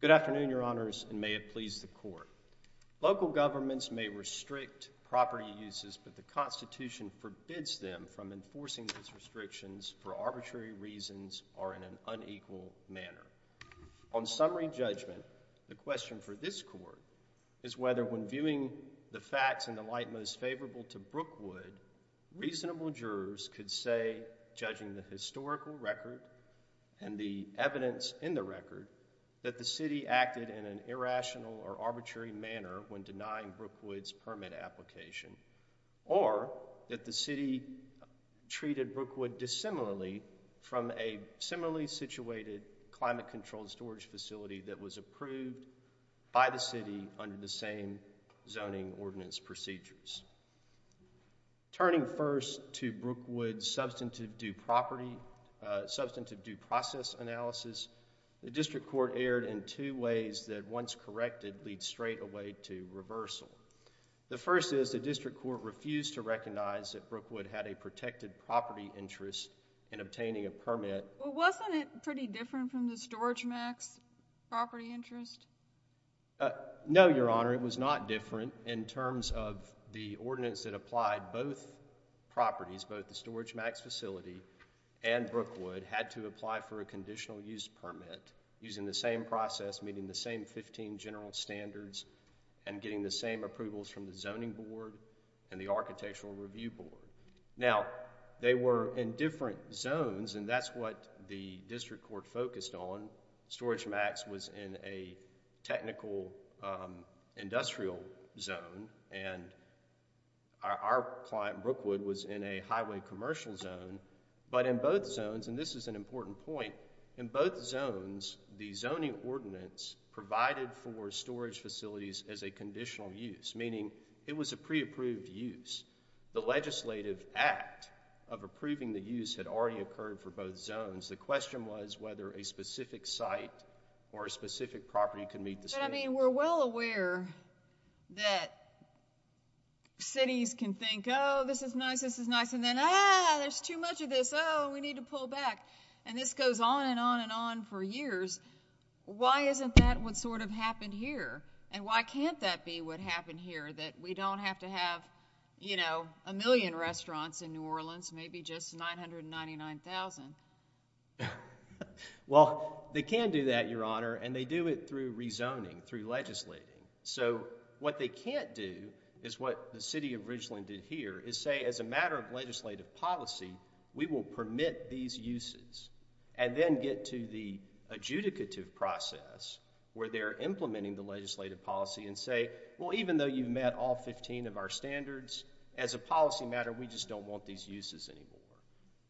Good afternoon, Your Honors, and may it please the Court. Local governments may restrict property uses, but the Constitution forbids them from enforcing these restrictions for arbitrary reasons or in an unequal manner. On summary judgment, the question for this Court is whether, when viewing the facts in the light most favorable to Brookwood, reasonable jurors could say, judging the historical record and the evidence in the record, that the City acted in an irrational or arbitrary manner when denying Brookwood's permit application, or that the City treated Brookwood dissimilarly from a similarly situated climate-controlled storage facility that was approved by the Turning first to Brookwood's substantive due process analysis, the District Court aired in two ways that, once corrected, lead straight away to reversal. The first is the District Court refused to recognize that Brookwood had a protected property interest in obtaining a permit. Well, wasn't it pretty different from the Storage Max property interest? No, Your Honor, it was not different in terms of the ordinance that applied both properties, both the Storage Max facility and Brookwood, had to apply for a conditional use permit using the same process, meeting the same fifteen general standards, and getting the same approvals from the Zoning Board and the Architectural Review Board. Now, they were in different zones, and that's what the District Court focused on. Storage Max was in a technical industrial zone, and our client, Brookwood, was in a highway commercial zone. But in both zones, and this is an important point, in both zones, the zoning ordinance provided for storage facilities as a conditional use, meaning it was a pre-approved use. The legislative act of approving the use had already occurred for both zones. The question was whether a specific site or a specific property could meet the standards. But, I mean, we're well aware that cities can think, oh, this is nice, this is nice, and then, ah, there's too much of this, oh, we need to pull back, and this goes on and on and on for years. Why isn't that what sort of happened here, and why can't that be what happened here, that we don't have to have, you know, a million restaurants in New Orleans, maybe just 999,000? Well, they can do that, Your Honor, and they do it through rezoning, through legislating. So, what they can't do is what the City of Richland did here, is say, as a matter of legislative policy, we will permit these uses, and then get to the adjudicative process, where they're implementing the legislative policy and say, well, even though you've met all 15 of our standards, as a policy matter, we just don't want these uses anymore.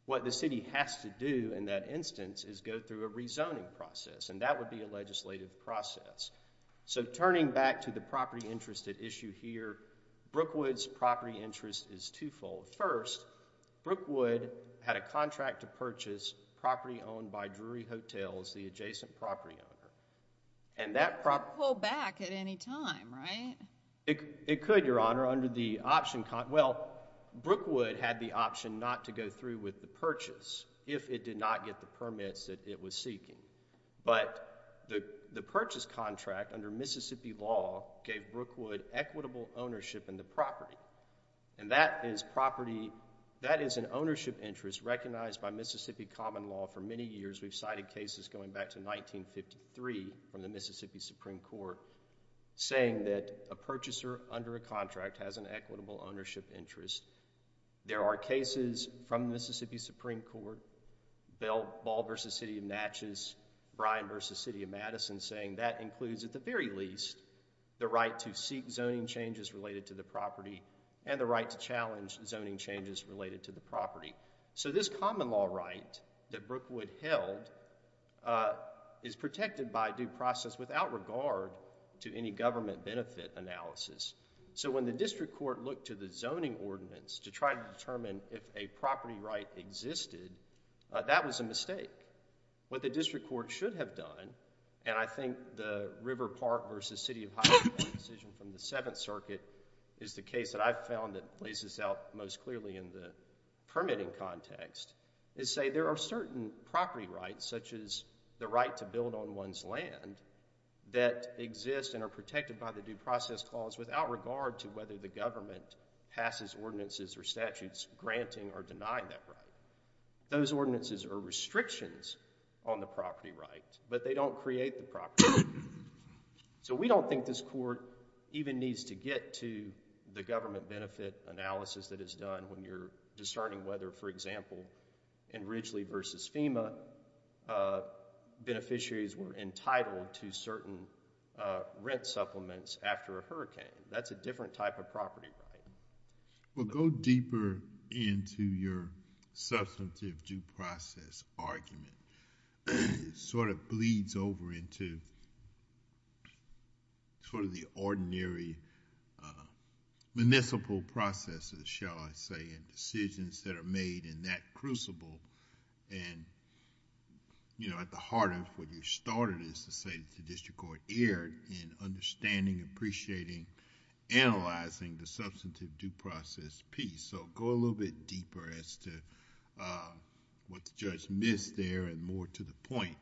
What the city has to do in that instance is go through a rezoning process, and that would be a legislative process. So, turning back to the property interest at issue here, Brookwood's property interest is twofold. First, Brookwood had a contract to purchase property owned by Drury Hotels, the adjacent property owner. And that property— It could pull back at any time, right? It could, Your Honor, under the option—well, Brookwood had the option not to go through with the purchase, if it did not get the permits that it was seeking. But the purchase contract, under Mississippi law, gave Brookwood equitable ownership in the property. And that is property—that is an ownership interest recognized by Mississippi common law for many years. We've cited cases going back to 1953, from the Mississippi Supreme Court, saying that a purchaser under a contract has an equitable ownership interest. There are cases from the Mississippi Supreme Court, Ball v. City of Natchez, Bryan v. City of Madison, saying that includes, at the very least, the right to seek zoning changes related to the property and the right to challenge zoning changes related to the property. So, this common law right that Brookwood held is protected by due process without regard to any government benefit analysis. So, when the district court looked to the zoning ordinance to try to determine if a property right existed, that was a mistake. What the district court should have done, and I think the River Park v. City of Highland decision from the Seventh Circuit is the case that I've found that lays this out most clearly in the permitting context, is say there are certain property rights, such as the right to build on one's land, that exist and are protected by the due process clause without regard to whether the government passes ordinances or statutes granting or denying that right. Those ordinances are restrictions on the property right, but they don't create the property right. So, we don't think this court even needs to get to the government benefit analysis that is done when you're discerning whether, for example, in Ridgely v. FEMA, beneficiaries were entitled to certain rent supplements after a hurricane. That's a different type of property right. Well, go deeper into your substantive due process argument. It sort of bleeds over into sort of the ordinary municipal processes, shall I say, and decisions that are made in that crucible. At the heart of what you started is to say that the district court erred in understanding, appreciating, analyzing the substantive due process piece. So, go a little bit deeper as to what the judge missed there and more to the point.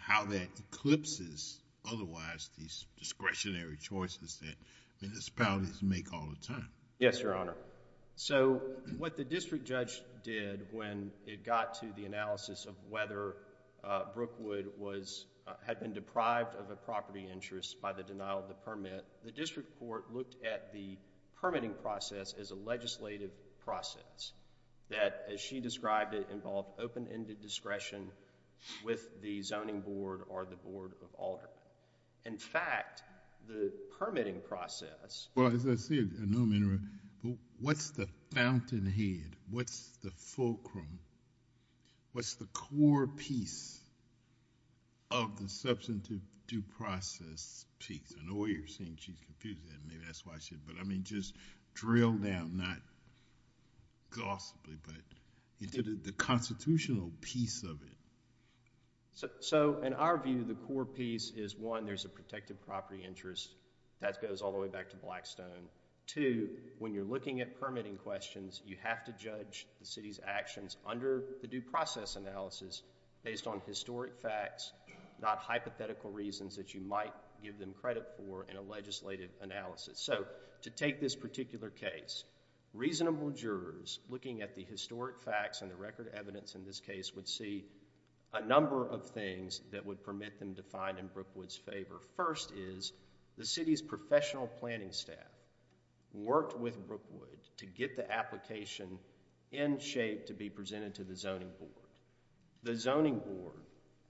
How that eclipses, otherwise, these discretionary choices that municipalities make all the time. Yes, Your Honor. So, what the district judge did when it got to the analysis of whether Brookwood had been deprived of a property interest by the denial of the permit, the district court looked at the permitting process as a legislative process. That, as she described it, involved open-ended discretion with the zoning board or the board of alder. In fact, the permitting process... Well, as I see it, I know I'm interrupting. What's the fountainhead? What's the fulcrum? What's the core piece of the substantive due process piece? I know you're saying she's confusing it. Maybe that's why she... But, I mean, just drill down, not gossipy, but the constitutional piece of it. So, in our view, the core piece is, one, there's a protective property interest. That goes all the way back to Blackstone. Two, when you're looking at permitting questions, you have to judge the city's actions under the due process analysis based on historic facts, not hypothetical reasons that you might give them credit for in a legislative analysis. So, to take this particular case, reasonable jurors looking at the historic facts and the record evidence in this case would see a number of things that would permit them to find in Brookwood's favor. First is, the city's professional planning staff worked with Brookwood to get the application in shape to be presented to the zoning board. The zoning board,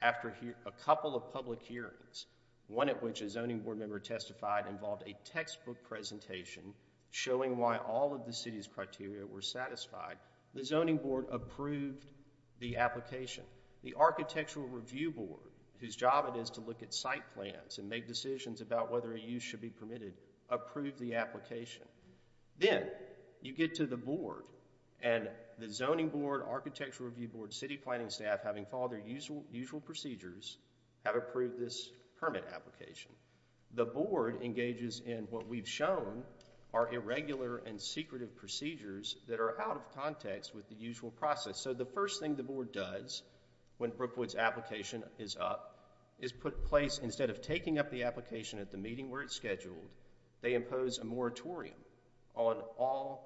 after a couple of public hearings, one at which a zoning board member testified involved a textbook presentation showing why all of the city's criteria were satisfied, the zoning board approved the application. The architectural review board, whose job it is to look at site plans and make decisions about whether a use should be permitted, approved the application. Then, you get to the board, and the zoning board, architectural review board, city planning staff, having followed their usual procedures, have approved this permit application. The board engages in what we've shown are irregular and secretive procedures that are out of context with the usual process. So, the first thing the board does when Brookwood's application is up is put in place, instead of taking up the application at the meeting where it's scheduled, they impose a moratorium on all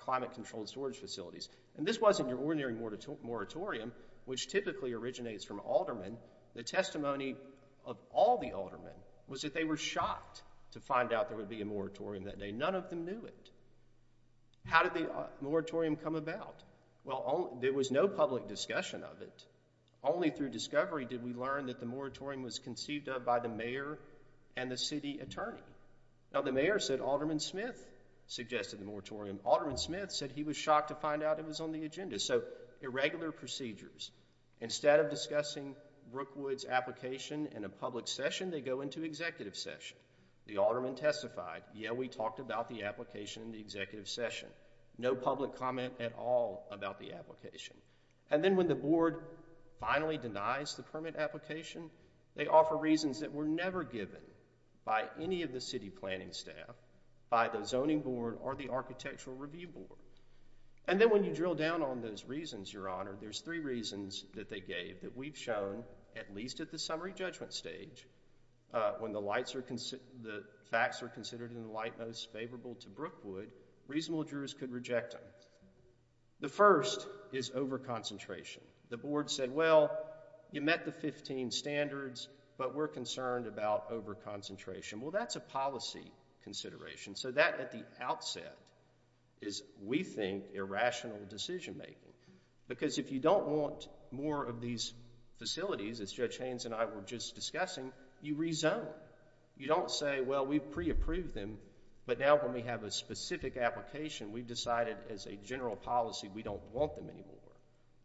climate-controlled storage facilities. And this wasn't your ordinary moratorium, which typically originates from aldermen. The testimony of all the aldermen was that they were shocked to find out there would be a moratorium that day. None of them knew it. How did the moratorium come about? Well, there was no public discussion of it. Only through discovery did we learn that the moratorium was conceived of by the mayor and the city attorney. Now, the mayor said alderman Smith suggested the moratorium. Alderman Smith said he was shocked to find out it was on the agenda. So, irregular procedures. Instead of discussing Brookwood's application in a public session, they go into executive session. The alderman testified, yeah, we talked about the application in the executive session. No public comment at all about the application. And then when the board finally denies the permit application, they offer reasons that were never given by any of the city planning staff, by the zoning board, or the architectural review board. And then when you drill down on those reasons, Your Honor, there's three reasons that they gave that we've shown, at least at the summary judgment stage, when the facts are considered in the light most favorable to Brookwood, reasonable jurors could reject them. The first is over-concentration. The board said, well, you met the 15 standards, but we're concerned about over-concentration. Well, that's a policy consideration. So that, at the outset, is, we think, irrational decision-making. Because if you don't want more of these facilities, as Judge Haynes and I were just discussing, you rezone. You don't say, well, we've pre-approved them, but now when we have a specific application, we've decided as a general policy we don't want them anymore.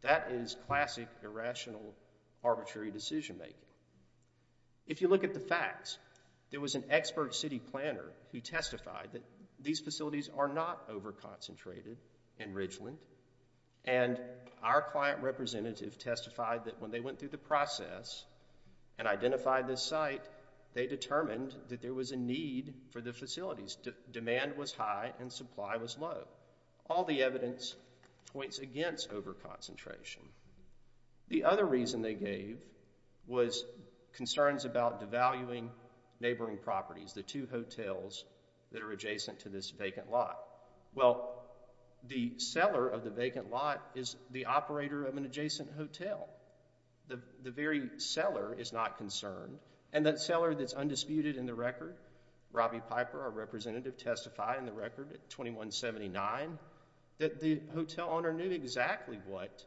That is classic, irrational, arbitrary decision-making. If you look at the facts, there was an expert city planner who testified that these facilities are not over-concentrated in Ridgeland. And our client representative testified that when they went through the process and identified this site, they determined that there was a need for the facilities. Demand was high and supply was low. All the evidence points against over-concentration. The other reason they gave was concerns about devaluing neighboring properties, the two hotels that are adjacent to this vacant lot. Well, the seller of the vacant lot is the operator of an adjacent hotel. The very seller is not concerned. And that seller that's undisputed in the record, Robbie Piper, our representative, testified in the record at 2179 that the hotel owner knew exactly what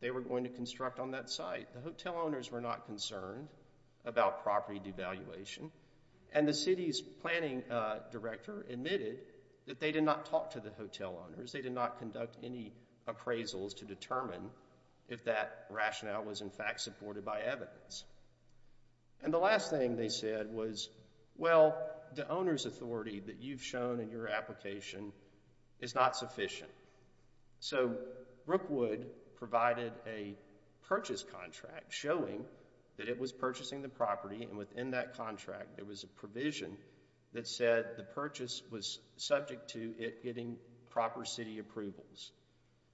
they were going to construct on that site. The hotel owners were not concerned about property devaluation. And the city's planning director admitted that they did not talk to the hotel owners. They did not conduct any appraisals to determine if that rationale was in fact supported by evidence. And the last thing they said was, well, the owner's authority that you've shown in your application is not sufficient. So, Brookwood provided a purchase contract showing that it was purchasing the property, and within that contract there was a provision that said the purchase was subject to it getting proper city approvals.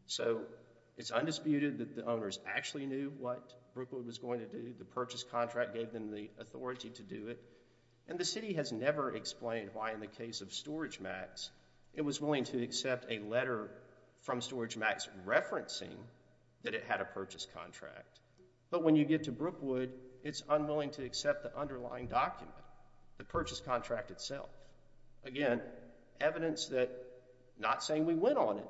So, it's undisputed that the owners actually knew what Brookwood was going to do. The purchase contract gave them the authority to do it. And the city has never explained why in the case of StorageMax it was willing to accept a letter from StorageMax referencing that it had a purchase contract. But when you get to Brookwood, it's unwilling to accept the underlying document, the purchase contract itself. Again, evidence that, not saying we went on it,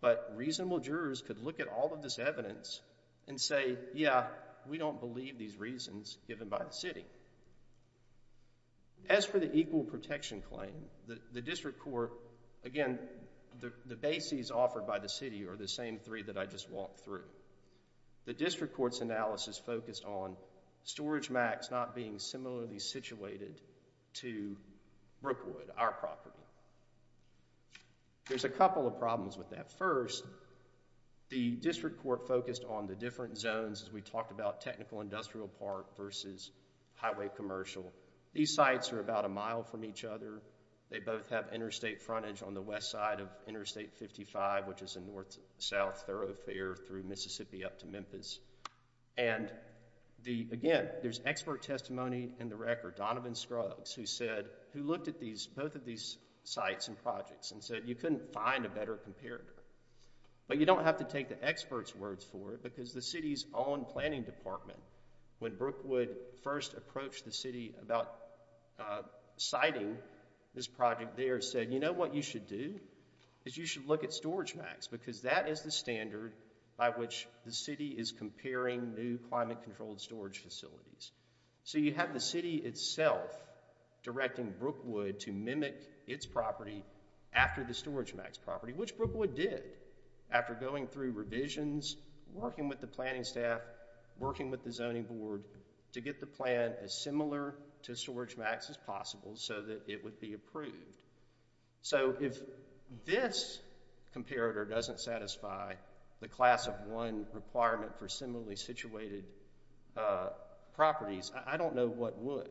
but reasonable jurors could look at all of this evidence and say, yeah, we don't believe these reasons given by the city. As for the equal protection claim, the district court, again, the bases offered by the city are the same three that I just walked through. The district court's analysis focused on StorageMax not being similarly situated to Brookwood, our property. There's a couple of problems with that. First, the district court focused on the different zones as we talked about technical industrial park versus highway commercial. These sites are about a mile from each other. They both have interstate frontage on the west side of Interstate 55, which is a north-south thoroughfare through Mississippi up to Memphis. And, again, there's expert testimony in the record, Donovan Scruggs, who looked at both of these sites and projects and said you couldn't find a better comparator. But you don't have to take the expert's words for it because the city's own planning department, when Brookwood first approached the city about siting this project there, said, you know what you should do? You should look at StorageMax because that is the standard by which the city is comparing new climate-controlled storage facilities. So you have the city itself directing Brookwood to mimic its property after the StorageMax property, which Brookwood did after going through revisions, working with the planning staff, working with the zoning board to get the plan as similar to StorageMax as possible so that it would be approved. So if this comparator doesn't satisfy the class of one requirement for similarly situated properties, I don't know what would.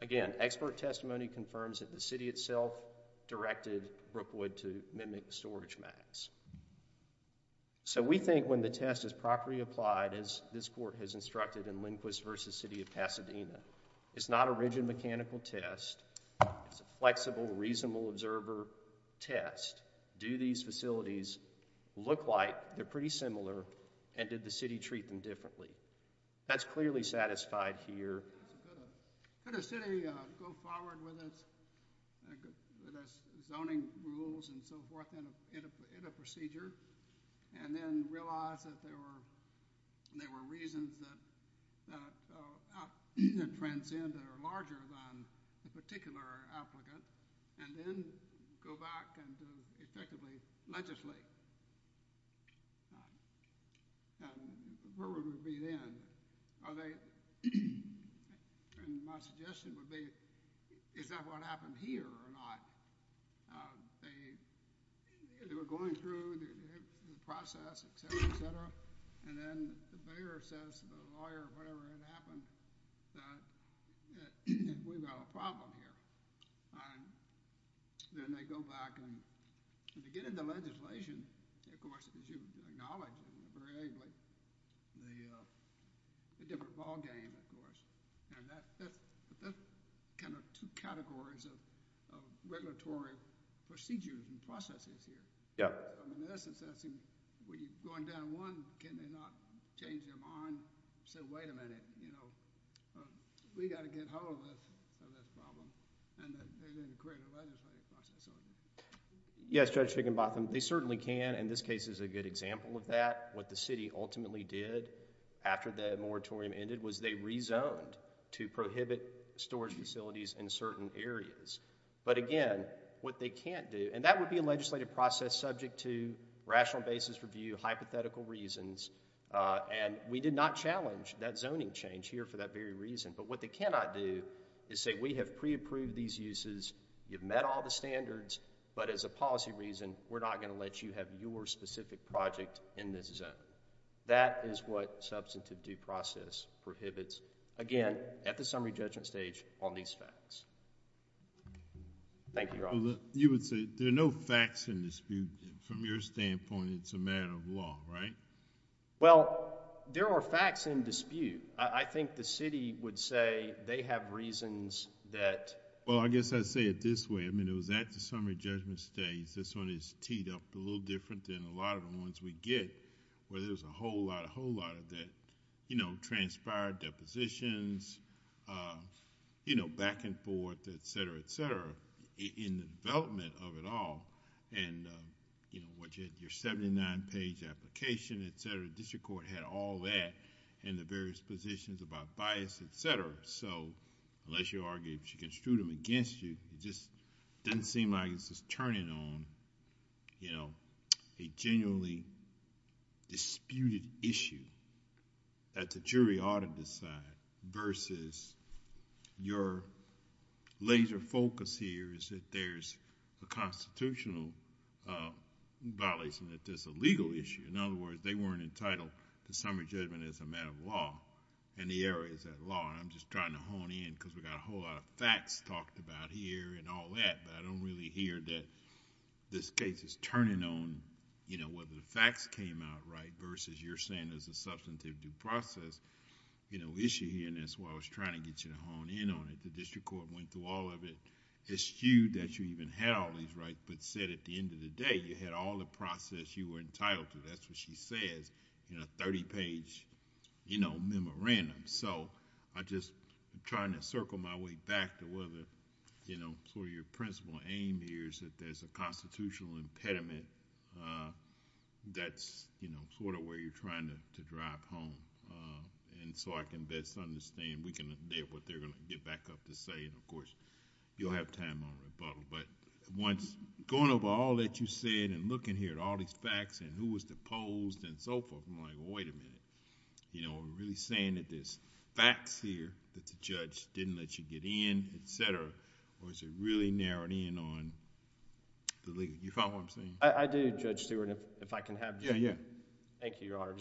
Again, expert testimony confirms that the city itself directed Brookwood to mimic StorageMax. So we think when the test is properly applied, as this court has instructed in Lindquist v. City of Pasadena, it's not a rigid mechanical test. It's a flexible, reasonable observer test. Do these facilities look like they're pretty similar and did the city treat them differently? That's clearly satisfied here. Could a city go forward with its zoning rules and so forth in a procedure and then realize that there were reasons that transcend that are larger than the particular applicant and then go back and effectively legislate? The problem would be then, my suggestion would be, is that what happened here or not? They were going through the process, et cetera, et cetera, and then the mayor says to the lawyer, whatever had happened, that we've got a problem here. Then they go back. To get into legislation, of course, as you acknowledge very ably, the different ballgame, of course. That's kind of two categories of regulatory procedures and processes here. In essence, that's going down one, can they not change their mind, say, wait a minute, we've got to get hold of this problem. And then create a legislative process on it. Yes, Judge Fickenbotham, they certainly can, and this case is a good example of that. What the city ultimately did after the moratorium ended was they rezoned to prohibit storage facilities in certain areas. But again, what they can't do, and that would be a legislative process subject to rational basis review, hypothetical reasons, and we did not challenge that zoning change here for that very reason. But what they cannot do is say we have pre-approved these uses, you've met all the standards, but as a policy reason, we're not going to let you have your specific project in this zone. That is what substantive due process prohibits. Again, at the summary judgment stage on these facts. Thank you, Your Honor. You would say there are no facts in dispute. From your standpoint, it's a matter of law, right? Well, there are facts in dispute. I think the city would say they have reasons that... Well, I guess I'd say it this way. It was at the summary judgment stage. This one is teed up a little different than a lot of the ones we get, where there's a whole lot of that transpired depositions, back and forth, et cetera, et cetera, in the development of it all. Your seventy-nine page application, et cetera, the district court had all that, and the various positions about bias, et cetera. Unless you argue that you can shoot them against you, it just doesn't seem like this is turning on a genuinely disputed issue that the jury ought to decide versus your laser focus here is that there's a constitutional violation, that there's a legal issue. In other words, they weren't entitled to summary judgment as a matter of law, and the error is that law. I'm just trying to hone in because we've got a whole lot of facts talked about here and all that, but I don't really hear that this case is turning on whether the facts came out right versus you're saying there's a substantive due process issue here. That's why I was trying to get you to hone in on it. The district court went through all of it, eschewed that you even had all these rights, but said at the end of the day, you had all the process you were entitled to. That's what she says in a 30-page memorandum. I'm just trying to circle my way back to whether your principal aim here is that there's a constitutional impediment. That's where you're trying to drive home. I can best understand. We can adapt what they're going to get back up to say, and of course, you'll have time on rebuttal. Going over all that you said and looking here at all these facts and who was deposed and so forth, I'm like, wait a minute. We're really saying that there's facts here that the judge didn't let you get in, et cetera, or is it really narrowed in on the legal... you follow what I'm saying? I do, Judge Stewart. If I can have... Yeah, yeah. Thank you, Your Honor.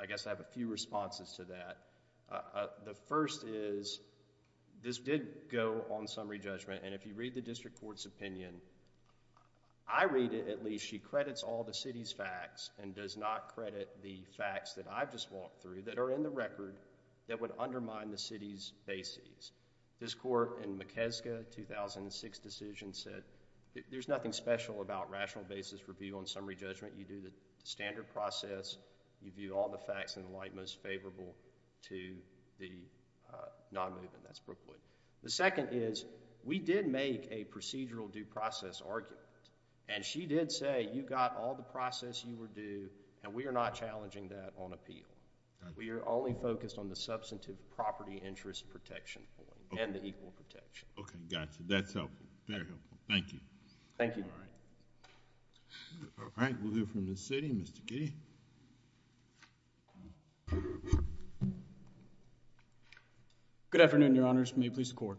I guess I have a few responses to that. The first is, this did go on summary judgment. If you read the district court's opinion, I read it at least. She credits all the city's facts and does not credit the facts that I've just walked through that are in the record that would undermine the city's bases. This court in McKeska, 2006 decision, said there's nothing special about rational basis review on summary judgment. You do the standard process. You view all the facts in the light most favorable to the non-movement. That's Brookwood. The second is, we did make a procedural due process argument, and she did say you got all the process you were due, and we are not challenging that on appeal. We are only focused on the substantive property interest protection form and the equal protection. Okay. Got you. That's helpful. Very helpful. Thank you. Thank you. All right. We'll hear from the city. Mr. Kitty. Good afternoon, your honors. May it please the court.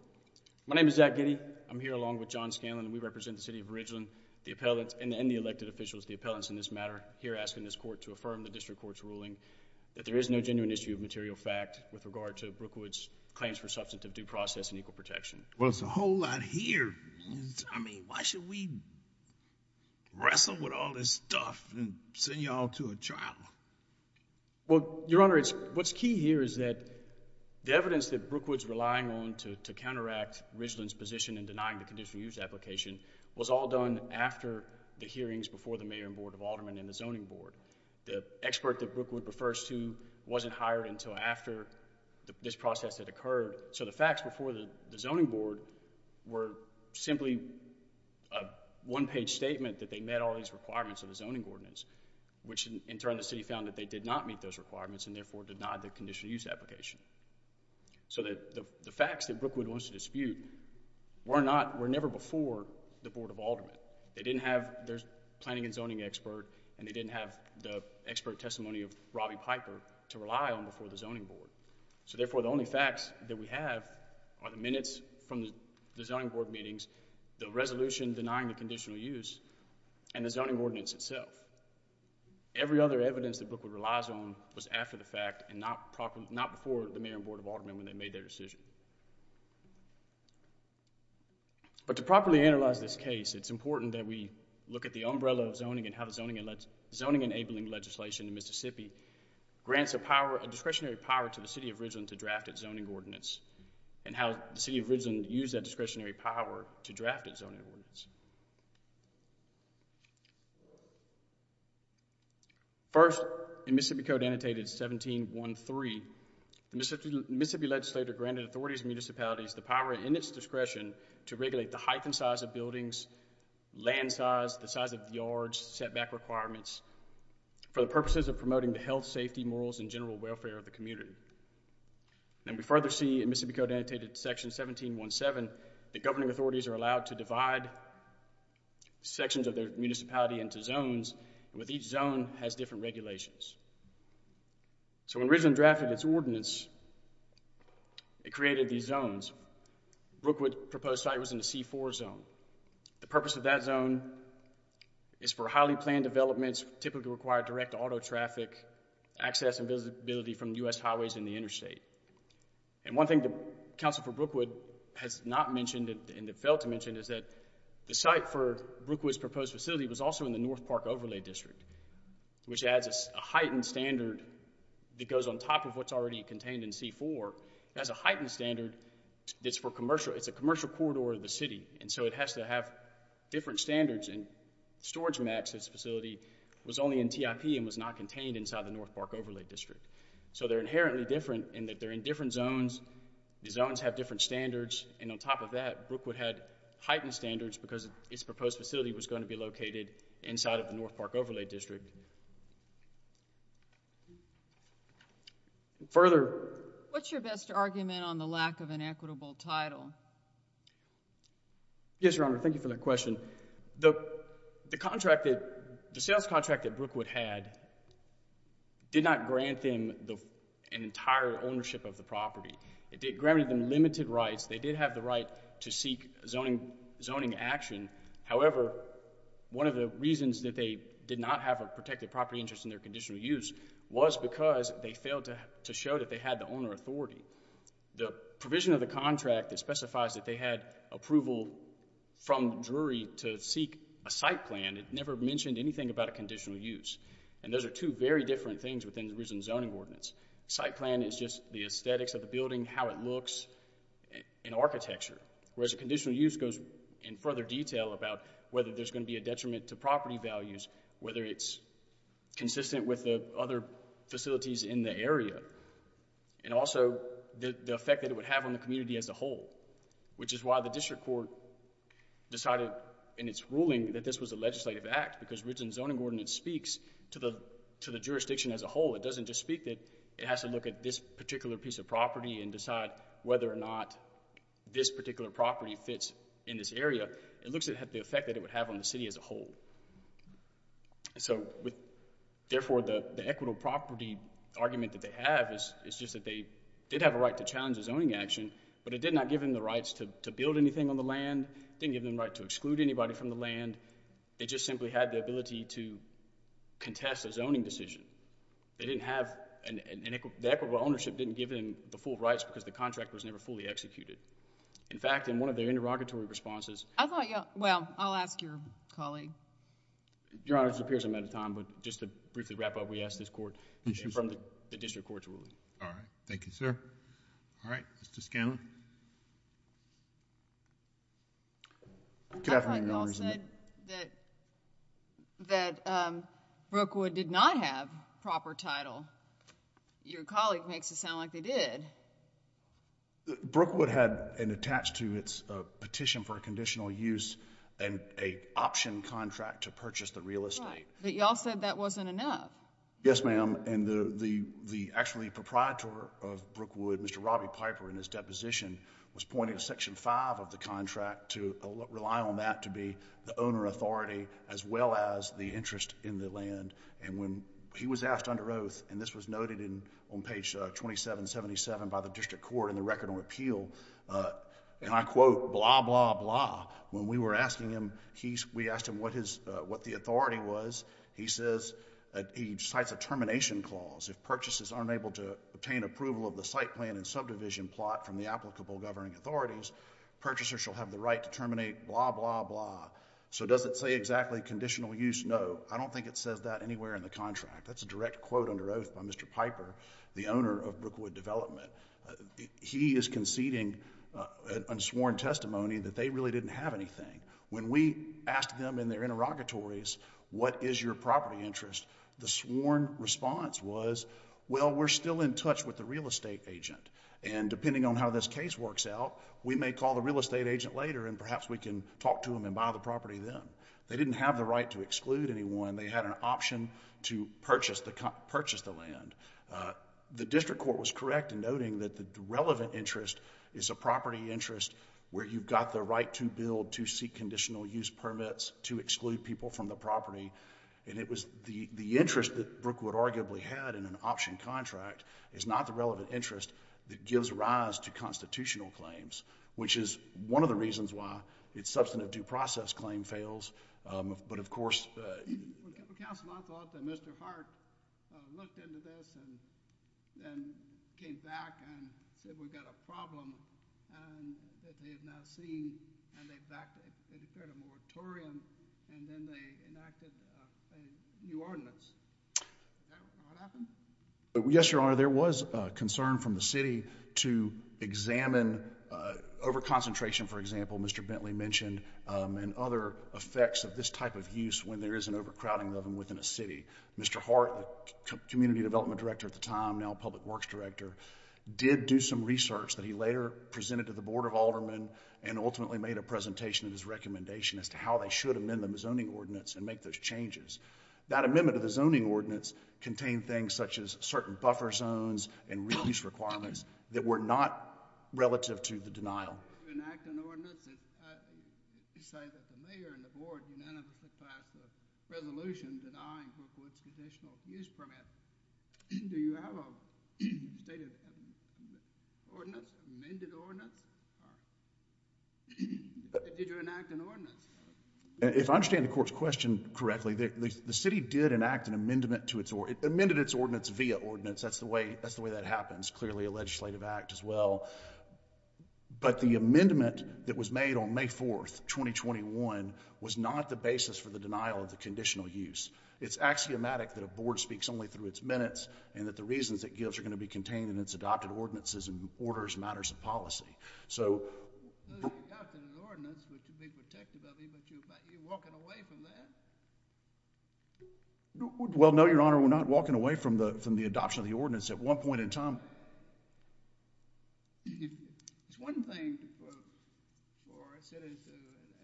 My name is Zach Kitty. I'm here along with John Scanlon, and we represent the city of Ridgeland, the appellants, and the elected officials, the appellants in this matter, here asking this court to affirm the district court's ruling that there is no genuine issue of material fact with regard to Brookwood's claims for substantive due process and equal protection. Well, it's a whole lot here. I mean, why should we wrestle with all this stuff and send you all to a trial? Well, your honors, what's key here is that the evidence that Brookwood's relying on to counteract Ridgeland's position in denying the conditional use application was all done after the hearings before the Mayor and Board of Aldermen and the Zoning Board. The expert that Brookwood refers to wasn't hired until after this process had occurred, so the facts before the Zoning Board were simply a one-page statement that they met all these requirements of the zoning ordinance, which in turn the city found that they did not meet those requirements and therefore denied the conditional use application. So the facts that Brookwood wants to dispute were never before the Board of Aldermen. They didn't have their planning and zoning expert, and they didn't have the expert testimony of Robbie Piper to rely on before the Zoning Board. So therefore, the only facts that we have are the minutes from the Zoning Board meetings, the resolution denying the conditional use, and the zoning ordinance itself. Every other evidence that Brookwood relies on was after the fact and not before the Mayor and Board of Aldermen when they made their decision. But to properly analyze this case, it's important that we look at the umbrella of zoning and how the zoning-enabling legislation in Mississippi grants a discretionary power to the City of Ridgeland to draft its zoning ordinance and how the City of Ridgeland used that discretionary power to First, in Mississippi Code Annotated 1713, the Mississippi Legislature granted authorities and municipalities the power in its discretion to regulate the height and size of buildings, land size, the size of yards, setback requirements, for the purposes of promoting the health, safety, morals, and general welfare of the community. And we further see in Mississippi Code Annotated Section 1717 that governing authorities are allowed to divide sections of their municipality into zones, and with each zone has different regulations. So when Ridgeland drafted its ordinance, it created these zones. Brookwood proposed site was in the C4 zone. The purpose of that zone is for highly planned developments, typically required direct auto traffic, access and visibility from U.S. highways and the interstate. And one thing that Council for Brookwood has not mentioned and failed to district, which adds a heightened standard that goes on top of what's already contained in C4. It has a heightened standard that's for commercial. It's a commercial corridor of the city. And so it has to have different standards. And Storage Max, this facility, was only in TIP and was not contained inside the North Park Overlay District. So they're inherently different in that they're in different zones. The zones have different standards. And on top of that, Brookwood had heightened standards because its proposed facility was going to be located inside of the North Park Overlay District. Further. What's your best argument on the lack of an equitable title? Yes, Your Honor, thank you for that question. The sales contract that Brookwood had did not grant them an entire ownership of the property. It granted them limited rights. They did have the right to seek zoning action. However, one of the reasons that they did not have a protected property interest in their conditional use was because they failed to show that they had the owner authority. The provision of the contract that specifies that they had approval from the jury to seek a site plan never mentioned anything about a conditional use. And those are two very different things within the original zoning ordinance. Site plan is just the aesthetics of the building, how it looks, and architecture. Whereas a conditional use goes in further detail about whether there's going to be a detriment to property values, whether it's consistent with the other facilities in the area, and also the effect that it would have on the community as a whole. Which is why the district court decided in its ruling that this was a legislative act. Because the original zoning ordinance speaks to the jurisdiction as a whole. It doesn't just speak to it. It has to look at this particular piece of property and decide whether or not this particular property fits in this area. It looks at the effect that it would have on the city as a whole. Therefore, the equitable property argument that they have is just that they did have a right to challenge the zoning action, but it did not give them the rights to build anything on the land. It didn't give them the right to exclude anybody from the land. They just simply had the ability to contest a zoning decision. They didn't have... the equitable ownership didn't give them the full rights because the contract was never fully executed. In fact, in one of their interrogatory responses... I thought y'all... well, I'll ask your colleague. Your Honor, this appears I'm out of time, but just to briefly wrap up, we ask this court to confirm the district court's ruling. All right. Thank you, sir. All right. Mr. Scanlon. I thought y'all said that Brookwood did not have proper title. Your colleague makes it sound like they did. Brookwood had attached to its petition for a conditional use an option contract to purchase the real estate. Right. But y'all said that wasn't enough. Yes, ma'am. Actually, the proprietor of Brookwood, Mr. Robbie Piper, in his deposition, was pointing to section five of the contract to rely on that to be the owner authority as well as the interest in the land. When he was asked under oath, and this was noted on page 2777 by the district court in the record on appeal, and I quote, blah, blah, blah. When we were asking him, we asked him what the authority was. He says, he cites a termination clause. If purchases aren't able to obtain approval of the site plan and subdivision plot from the applicable governing authorities, purchasers shall have the right to terminate, blah, blah, blah. So does it say exactly conditional use? No. I don't think it says that anywhere in the contract. That's a direct quote under oath by Mr. Piper, the owner of Brookwood Development. He is conceding an unsworn testimony that they really didn't have anything. When we asked them in their interrogatories, what is your property interest? The sworn response was, well, we're still in touch with the real estate agent, and depending on how this case works out, we may call the real estate agent later and perhaps we can talk to him and buy the property then. They didn't have the right to exclude anyone. They had an option to purchase the land. The district court was correct in noting that the relevant interest is a property interest where you've got the right to build, to seek conditional use permits, to exclude people from the property. The interest that Brookwood arguably had in an option contract is not the relevant interest that gives rise to constitutional claims, which is one of the reasons why its substantive due process claim fails, but of course... Counsel, I thought that Mr. Hart looked into this and came back and said, we've got a problem that they have now seen, and they backed it. They declared a moratorium and then they enacted a new ordinance. Is that what happened? Yes, Your Honor. There was concern from the city to examine overconcentration, for example, Mr. Bentley mentioned, and other effects of this type of use when there is an overcrowding of them within a city. Mr. Hart, the community development director at the time, now public works director, did do some research that he later presented to the Board of Aldermen and ultimately made a presentation of his recommendation as to how they should amend the zoning ordinance and make those changes. That amendment of the zoning ordinance contained things such as certain buffer zones and reuse requirements that were not relative to the denial........... And your amendment was? Stated? Amended ordinance? Did you enact an ordinance? If I understand the Court's question correctly, the city did enact an amendment to its ordinance. It amended its ordinance via ordinance. That's the way that is happens. Clearly a legislative act as well. But the amendment that was made on May 4th, 2021 was not the basis for the denial of the conditional use. Its axiomatic that a Board speaks only to its minutes and the reasons it contained in its adopted ordinances and orders matters of policy. So... It's an adopted ordinance, which would be protective of you, but you're walking away from that? Well, no, Your Honor. We're not walking away from the adoption of the ordinance. At one point in time... It's one thing for a city to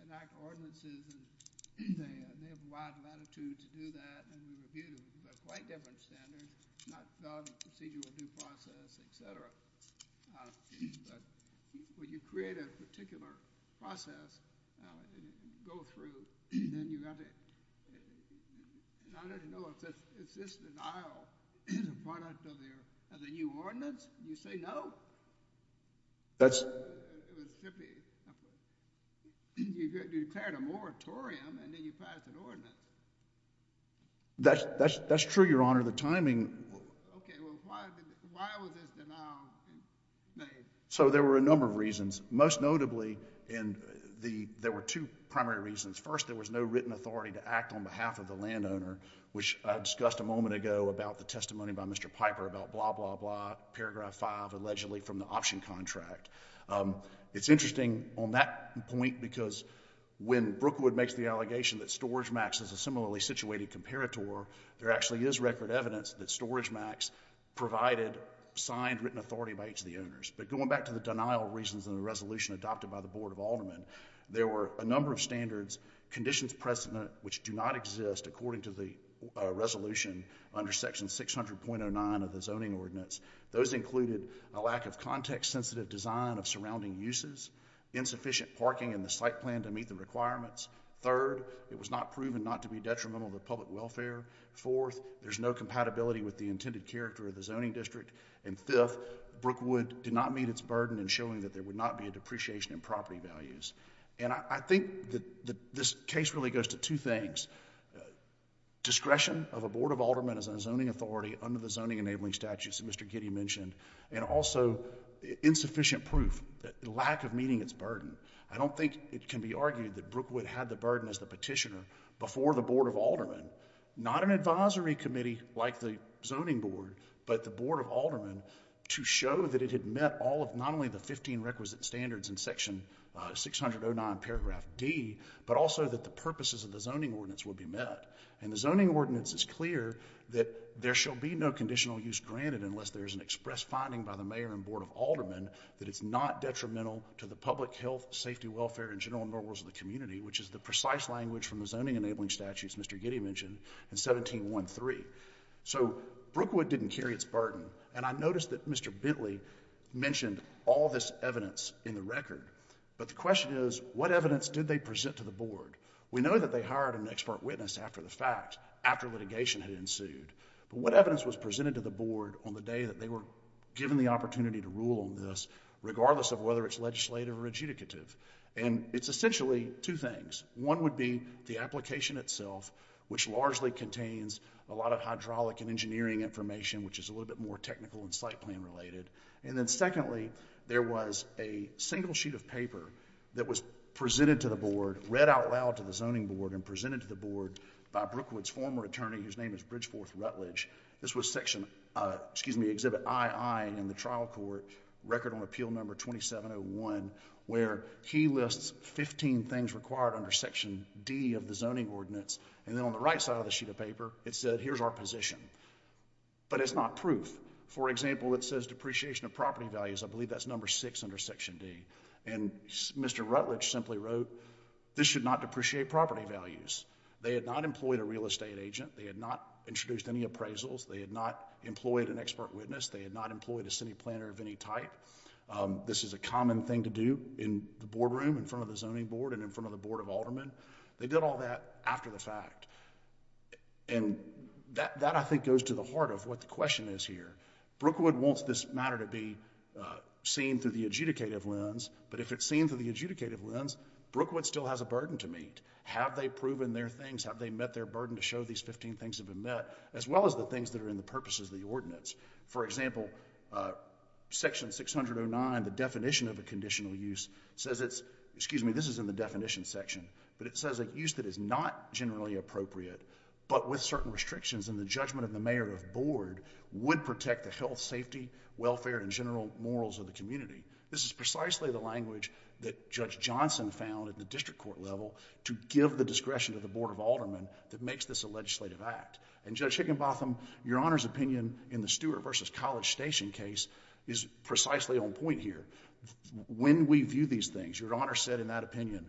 enact ordinances, and they have a wide latitude to do that. And they're quite different standards. It's not a procedural due process, et cetera. But when you create a particular process, go through, and then you have to... I don't know if this denial is a product of the new ordinance? You say no? That's... You declared a moratorium, and then you passed an ordinance. That's true, Your Honor. The timing... Okay. Well, why was this denial made? So there were a number of reasons. Most notably, there were two primary reasons. First, there was no written authority to act on behalf of the landowner, which I discussed a moment ago about the testimony by Mr. Piper about blah, blah, blah, paragraph 5, allegedly from the option contract. It's interesting on that point, because when Brookwood makes the allegation that storage max is a similarly situated comparator, there actually is record evidence that storage max provided signed written authority by each of the owners. But going back to the denial reasons in the resolution adopted by the Board of Aldermen, there were a number of standards, conditions present which do not exist according to the resolution under section 600.09 of the zoning ordinance. Those included a lack of context-sensitive design of surrounding uses, insufficient parking in the site plan to meet the requirements. Third, it was not proven not to be detrimental to public welfare. Fourth, there's no compatibility with the intended character of the zoning district. And fifth, Brookwood did not meet its burden in showing that there would not be a depreciation in property values. And I think that this case really goes to two things, discretion of a Board of Aldermen as a zoning authority under the zoning enabling statutes that Mr. Giddey mentioned, and also insufficient proof, the lack of meeting its burden. I don't think it can be argued that Brookwood had the burden as the Board of Aldermen, not an advisory committee like the zoning board, but the Board of Aldermen, to show that it had met all of, not only the 15 requisite standards in section 60009 paragraph D, but also that the purposes of the zoning ordinance would be met. And the zoning ordinance is clear that there shall be no conditional use granted unless there is an express finding by the mayor and Board of Aldermen that it's not detrimental to the public health, safety, welfare, and general normals of the community, which is the precise language from the zoning enabling statutes Mr. Giddey mentioned in 1713. So Brookwood didn't carry its burden. And I noticed that Mr. Bentley mentioned all this evidence in the record. But the question is, what evidence did they present to the Board? We know that they hired an expert witness after the fact, after litigation had ensued. But what evidence was presented to the Board on the day that they were given the opportunity to rule on this, regardless of whether it's legislative or adjudicative? And it's essentially two things. One would be the application itself, which largely contains a lot of hydraulic and engineering information, which is a little bit more technical and site plan related. And then secondly, there was a single sheet of paper that was presented to the Board, read out loud to the zoning Board, and presented to the Board by Brookwood's former attorney, whose name is Bridgeforth Rutledge. This was section, excuse me, exhibit II in the trial court, record on seal number 2701, where he lists 15 things required under section D of the zoning ordinance. And then on the right side of the sheet of paper, it said, here's our position. But it's not proof. For example, it says depreciation of property values. I believe that's number six under section D. And Mr. Rutledge simply wrote, this should not depreciate property values. They had not employed a real estate agent. They had not introduced any appraisals. They had not employed an expert witness. They had not employed a city planner of any type. This is a common thing to do in the boardroom in front of the zoning Board and in front of the Board of Aldermen. They did all that after the fact. And that, I think, goes to the heart of what the question is here. Brookwood wants this matter to be seen through the adjudicative lens. But if it's seen through the adjudicative lens, Brookwood still has a burden to meet. Have they proven their things? Have they met their burden to show these 15 things have been met, as well as the things that are in the purposes of the ordinance? For example, section 609, the definition of a conditional use, says it's, excuse me, this is in the definition section, but it says a use that is not generally appropriate, but with certain restrictions in the judgment of the mayor of board, would protect the health, safety, welfare, and general morals of the community. This is precisely the language that Judge Johnson found at the district court level to give the discretion to the Board of Aldermen that makes this a legislative act. And Judge Higginbotham, your Honor's opinion in the Stewart v. College Station case is precisely on point here. When we view these things, your Honor said in that opinion,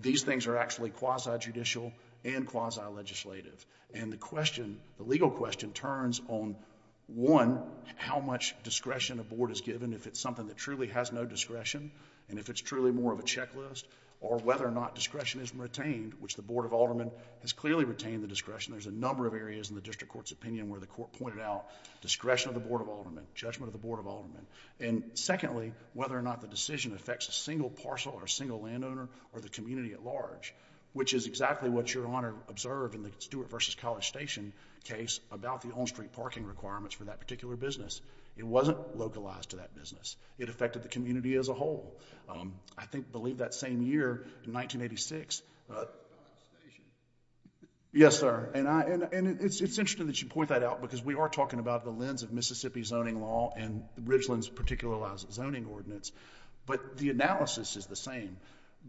these things are actually quasi-judicial and quasi-legislative. And the question, the legal question, turns on one, how much discretion a board is given, if it's something that truly has no discretion, and if it's truly more of a checklist, or whether or not discretion is retained, which the Board of Aldermen has clearly retained the discretion. There's a number of areas in the district court's opinion where the court pointed out discretion of the Board of Aldermen, judgment of the Board of Aldermen. And secondly, whether or not the decision affects a single parcel or a single landowner or the community at large, which is exactly what your Honor observed in the Stewart v. College Station case about the on-street parking requirements for that particular business. It wasn't localized to that business. It affected the community as a whole. I think, I believe that same year in 1986... Yes, sir. And it's interesting that you point that out, because we are talking about the lens of Mississippi zoning law and Ridgeland's particular zoning ordinance. But the analysis is the same.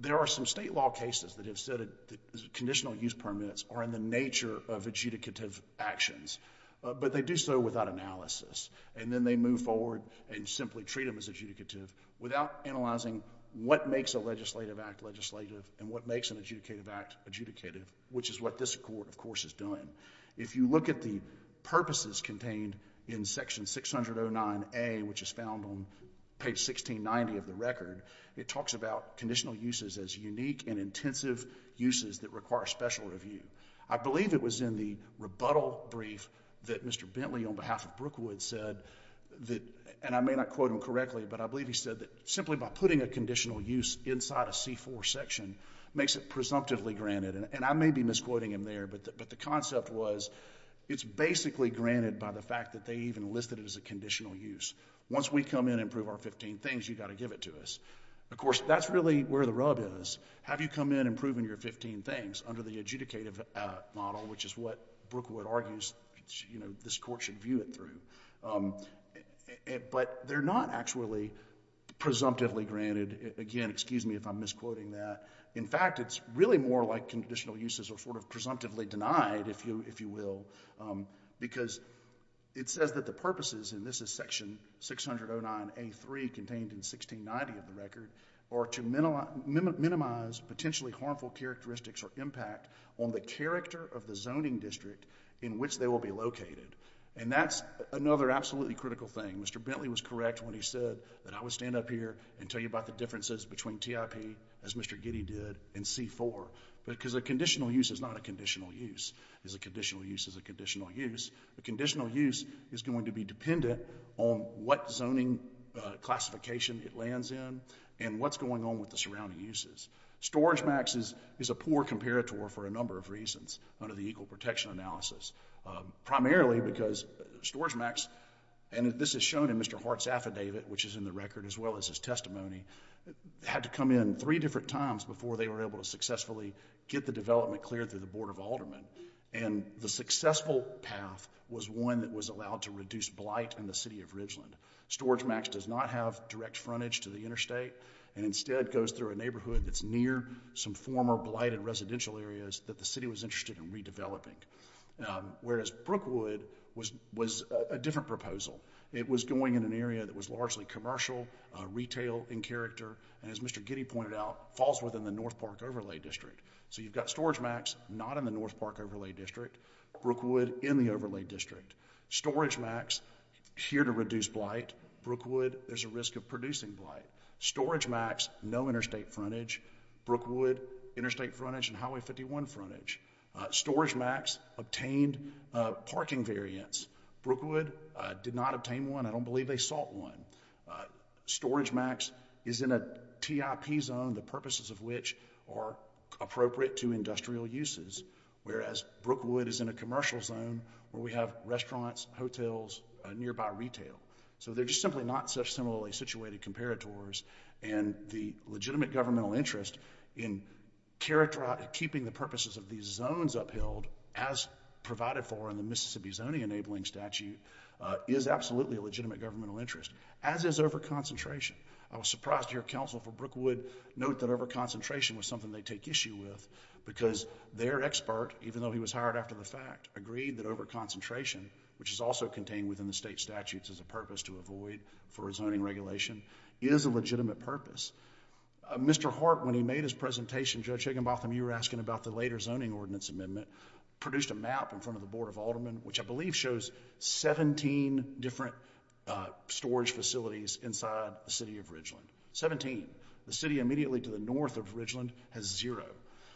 There are some state law cases that have said that conditional use permits are in the nature of adjudicative actions. But they do so without analysis. And then they move forward and simply treat them as adjudicative without analyzing what makes a legislative act legislative and what makes an adjudicative act adjudicative, which is what this Court, of course, is doing. If you look at the purposes contained in Section 609A, which is found on page 1690 of the record, it talks about conditional uses as unique and intensive uses that require special review. I believe it was in the rebuttal brief that Mr. Bentley, on behalf of Brookwood, said that... And I may not quote him correctly, but I believe he said that simply by putting a conditional use inside a And I may be misquoting him there, but the concept was it's basically granted by the fact that they even listed it as a conditional use. Once we come in and prove our 15 things, you've got to give it to us. Of course, that's really where the rub is. Have you come in and proven your 15 things under the adjudicative model, which is what Brookwood argues this Court should view it through. But they're not actually presumptively granted. Again, excuse me if I'm misquoting that. In fact, it's really more like conditional uses are sort of presumptively denied, if you will, because it says that the purposes, and this is section 609A3 contained in 1690 of the record, are to minimize potentially harmful characteristics or impact on the character of the zoning district in which they will be located. And that's another absolutely critical thing. Mr. Bentley was correct when he said that I would stand up here and tell you about the differences between TIP, as Mr. Giddey did, and C-4. Because a conditional use is not a conditional use. A conditional use is a conditional use. A conditional use is going to be dependent on what zoning classification it lands in and what's going on with the surrounding uses. Storage Max is a poor comparator for a number of reasons under the Equal Protection Analysis. Primarily because Storage Max, and this is shown in Mr. Hart's affidavit, which is in the record as well as his testimony, had to come in three different times before they were able to successfully get the development cleared through the Board of Aldermen. And the successful path was one that was allowed to reduce blight in the city of Ridgeland. Storage Max does not have direct frontage to the interstate and instead goes through a neighborhood that's near some former blighted residential areas that the city was interested in redeveloping. Whereas Brookwood was a different proposal. It was going in an area that was largely commercial, retail in character, and as Mr. Giddey pointed out, falls within the North Park Overlay District. So you've got Storage Max not in the North Park Overlay District, Brookwood in the Overlay District. Storage Max, here to reduce blight. Brookwood, there's a risk of producing blight. Storage Max, no interstate frontage. Brookwood, interstate frontage and Highway 51 frontage. Storage Max obtained parking variance. Brookwood did not obtain one. I don't believe they sought one. Storage Max is in a TIP zone, the purposes of which are appropriate to industrial uses. Whereas Brookwood is in a commercial zone where we have restaurants, hotels, nearby retail. So they're just simply not such similarly situated comparators. And the legitimate governmental interest in keeping the purposes of these zones upheld, as provided for in the Mississippi Zoning Enabling Statute, is absolutely a legitimate governmental interest, as is overconcentration. I was surprised to hear Counsel for Brookwood note that overconcentration was something they take issue with, because their expert, even though he was hired after the fact, agreed that overconcentration, which is also contained within the state statutes as a purpose to avoid for a zoning regulation, is a legitimate purpose. Mr. Hart, when he made his presentation, Judge Higginbotham, you were asking about the later Zoning Ordinance Amendment, produced a map in front of the Board of Aldermen, which I believe shows 17 different storage facilities inside the city of Ridgeland. 17. The city immediately to the north of Ridgeland has zero.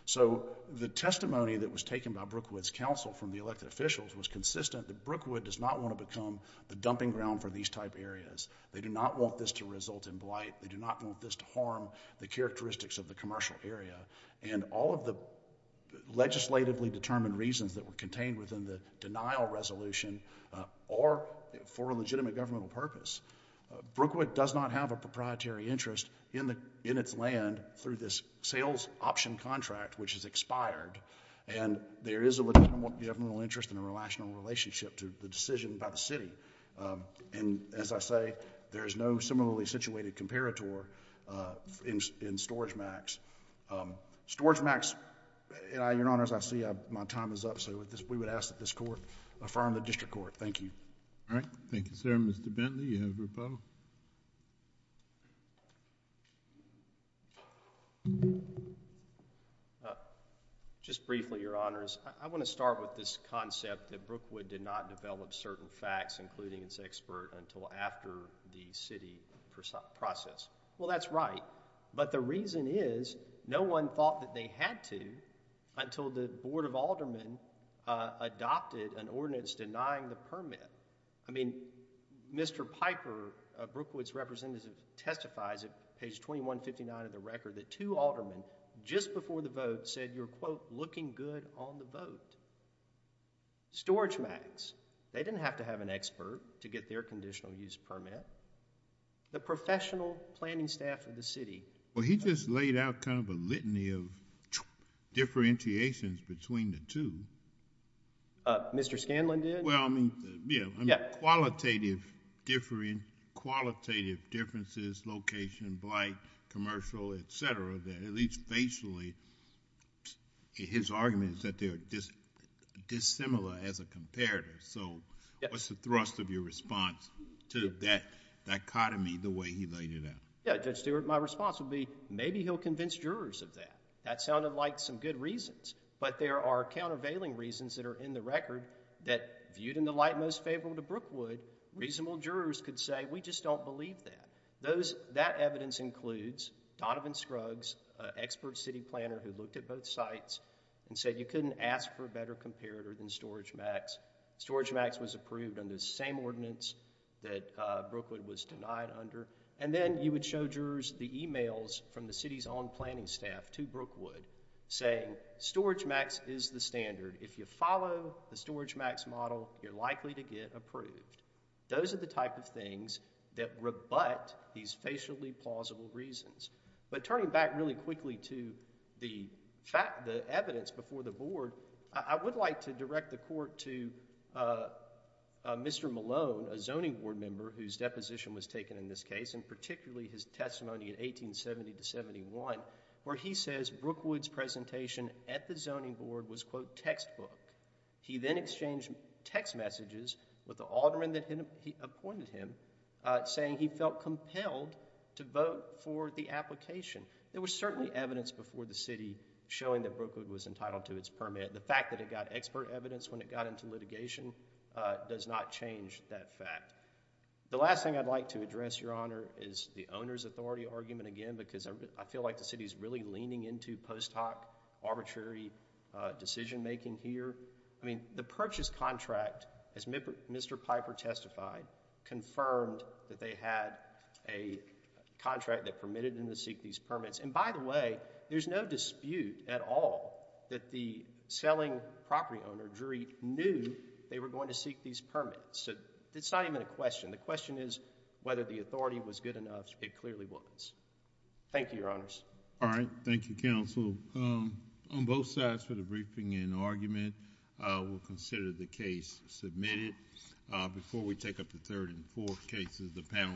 So the testimony that was taken by Brookwood's counsel from the elected officials was consistent that Brookwood does not want to become the dumping ground for these type areas. They do not want this to result in blight. They do not want this to harm the characteristics of the commercial area. And all of the legislatively determined reasons that were contained within the denial resolution are for a legitimate governmental purpose. Brookwood does not have a proprietary interest in its land through this sales option contract, which has expired. And there is a legitimate governmental interest and a relational relationship to the decision by the city. And as I say, there is no similarly situated comparator in StorageMax. StorageMax... Your Honor, as I see my time is up, so we would ask that this Court affirm the District Court. Thank you. All right. Thank you, sir. Mr. Bentley, you have a rebuttal. Just briefly, Your Honors. I want to start with this concept that Brookwood did not develop certain facts, including its expert, until after the city process. Well, that's right. But the reason is, no one thought that they had to until the Board of Aldermen adopted an ordinance denying the permit. I mean, Mr. Piper, Brookwood's representative, testifies at page 2159 of the record that two aldermen, just before the vote, said you're, quote, looking good on the vote. StorageMax... They didn't have to have an expert to get their conditional use permit. The professional planning staff of the city... Well, he just laid out kind of a litany of differentiations between the two. Mr. Scanlon did. Well, I mean, qualitative differences, location, blight, commercial, et cetera, that at least facially, his argument is that they're dissimilar as a comparator. So, what's the thrust of your response to that dichotomy, the way he laid it out? Yeah. Judge Stewart, my response would be, maybe he'll convince jurors of that. That sounded like some good reasons, but there are countervailing reasons that are in the record that viewed in the light most favorable to Brookwood, reasonable jurors could say, we just don't believe that. That evidence includes Donovan Scruggs, an expert city planner who looked at both sites and said you couldn't ask for a better comparator than StorageMax. StorageMax was approved under the same ordinance that Brookwood was denied under. And then you would show jurors the emails from the city's own planning staff to Brookwood saying StorageMax is the standard. If you follow the StorageMax model, you're likely to get approved. Those are the type of things that rebut these facially plausible reasons. But turning back really quickly to the evidence before the board, I would like to direct the court to Mr. Malone, a zoning board member whose deposition was taken in this case, and particularly his testimony in 1870-71 where he says Brookwood's presentation at the zoning board was, quote, textbook. He then exchanged text messages with the alderman that appointed him saying he felt compelled to vote for the application. There was certainly evidence before the city showing that Brookwood was entitled to its permit. The fact that it got expert evidence when it got into litigation does not change that fact. The last thing I'd like to address, Your Honor, is the owner's authority argument again because I feel like the city's really leaning into post hoc arbitrary decision making here. I mean, the purchase contract, as Mr. Piper testified, confirmed that they had a contract that permitted them to seek these permits. And by the way, there's no dispute at all that the selling property owner, Drury, knew they were going to seek these permits. So it's not even a question. The question is whether the authority was good enough. It clearly was. Thank you, Your Honors. All right. Thank you, counsel. On both sides for the briefing and argument, we'll consider the case submitted. Before we take up the third and fourth cases, the panel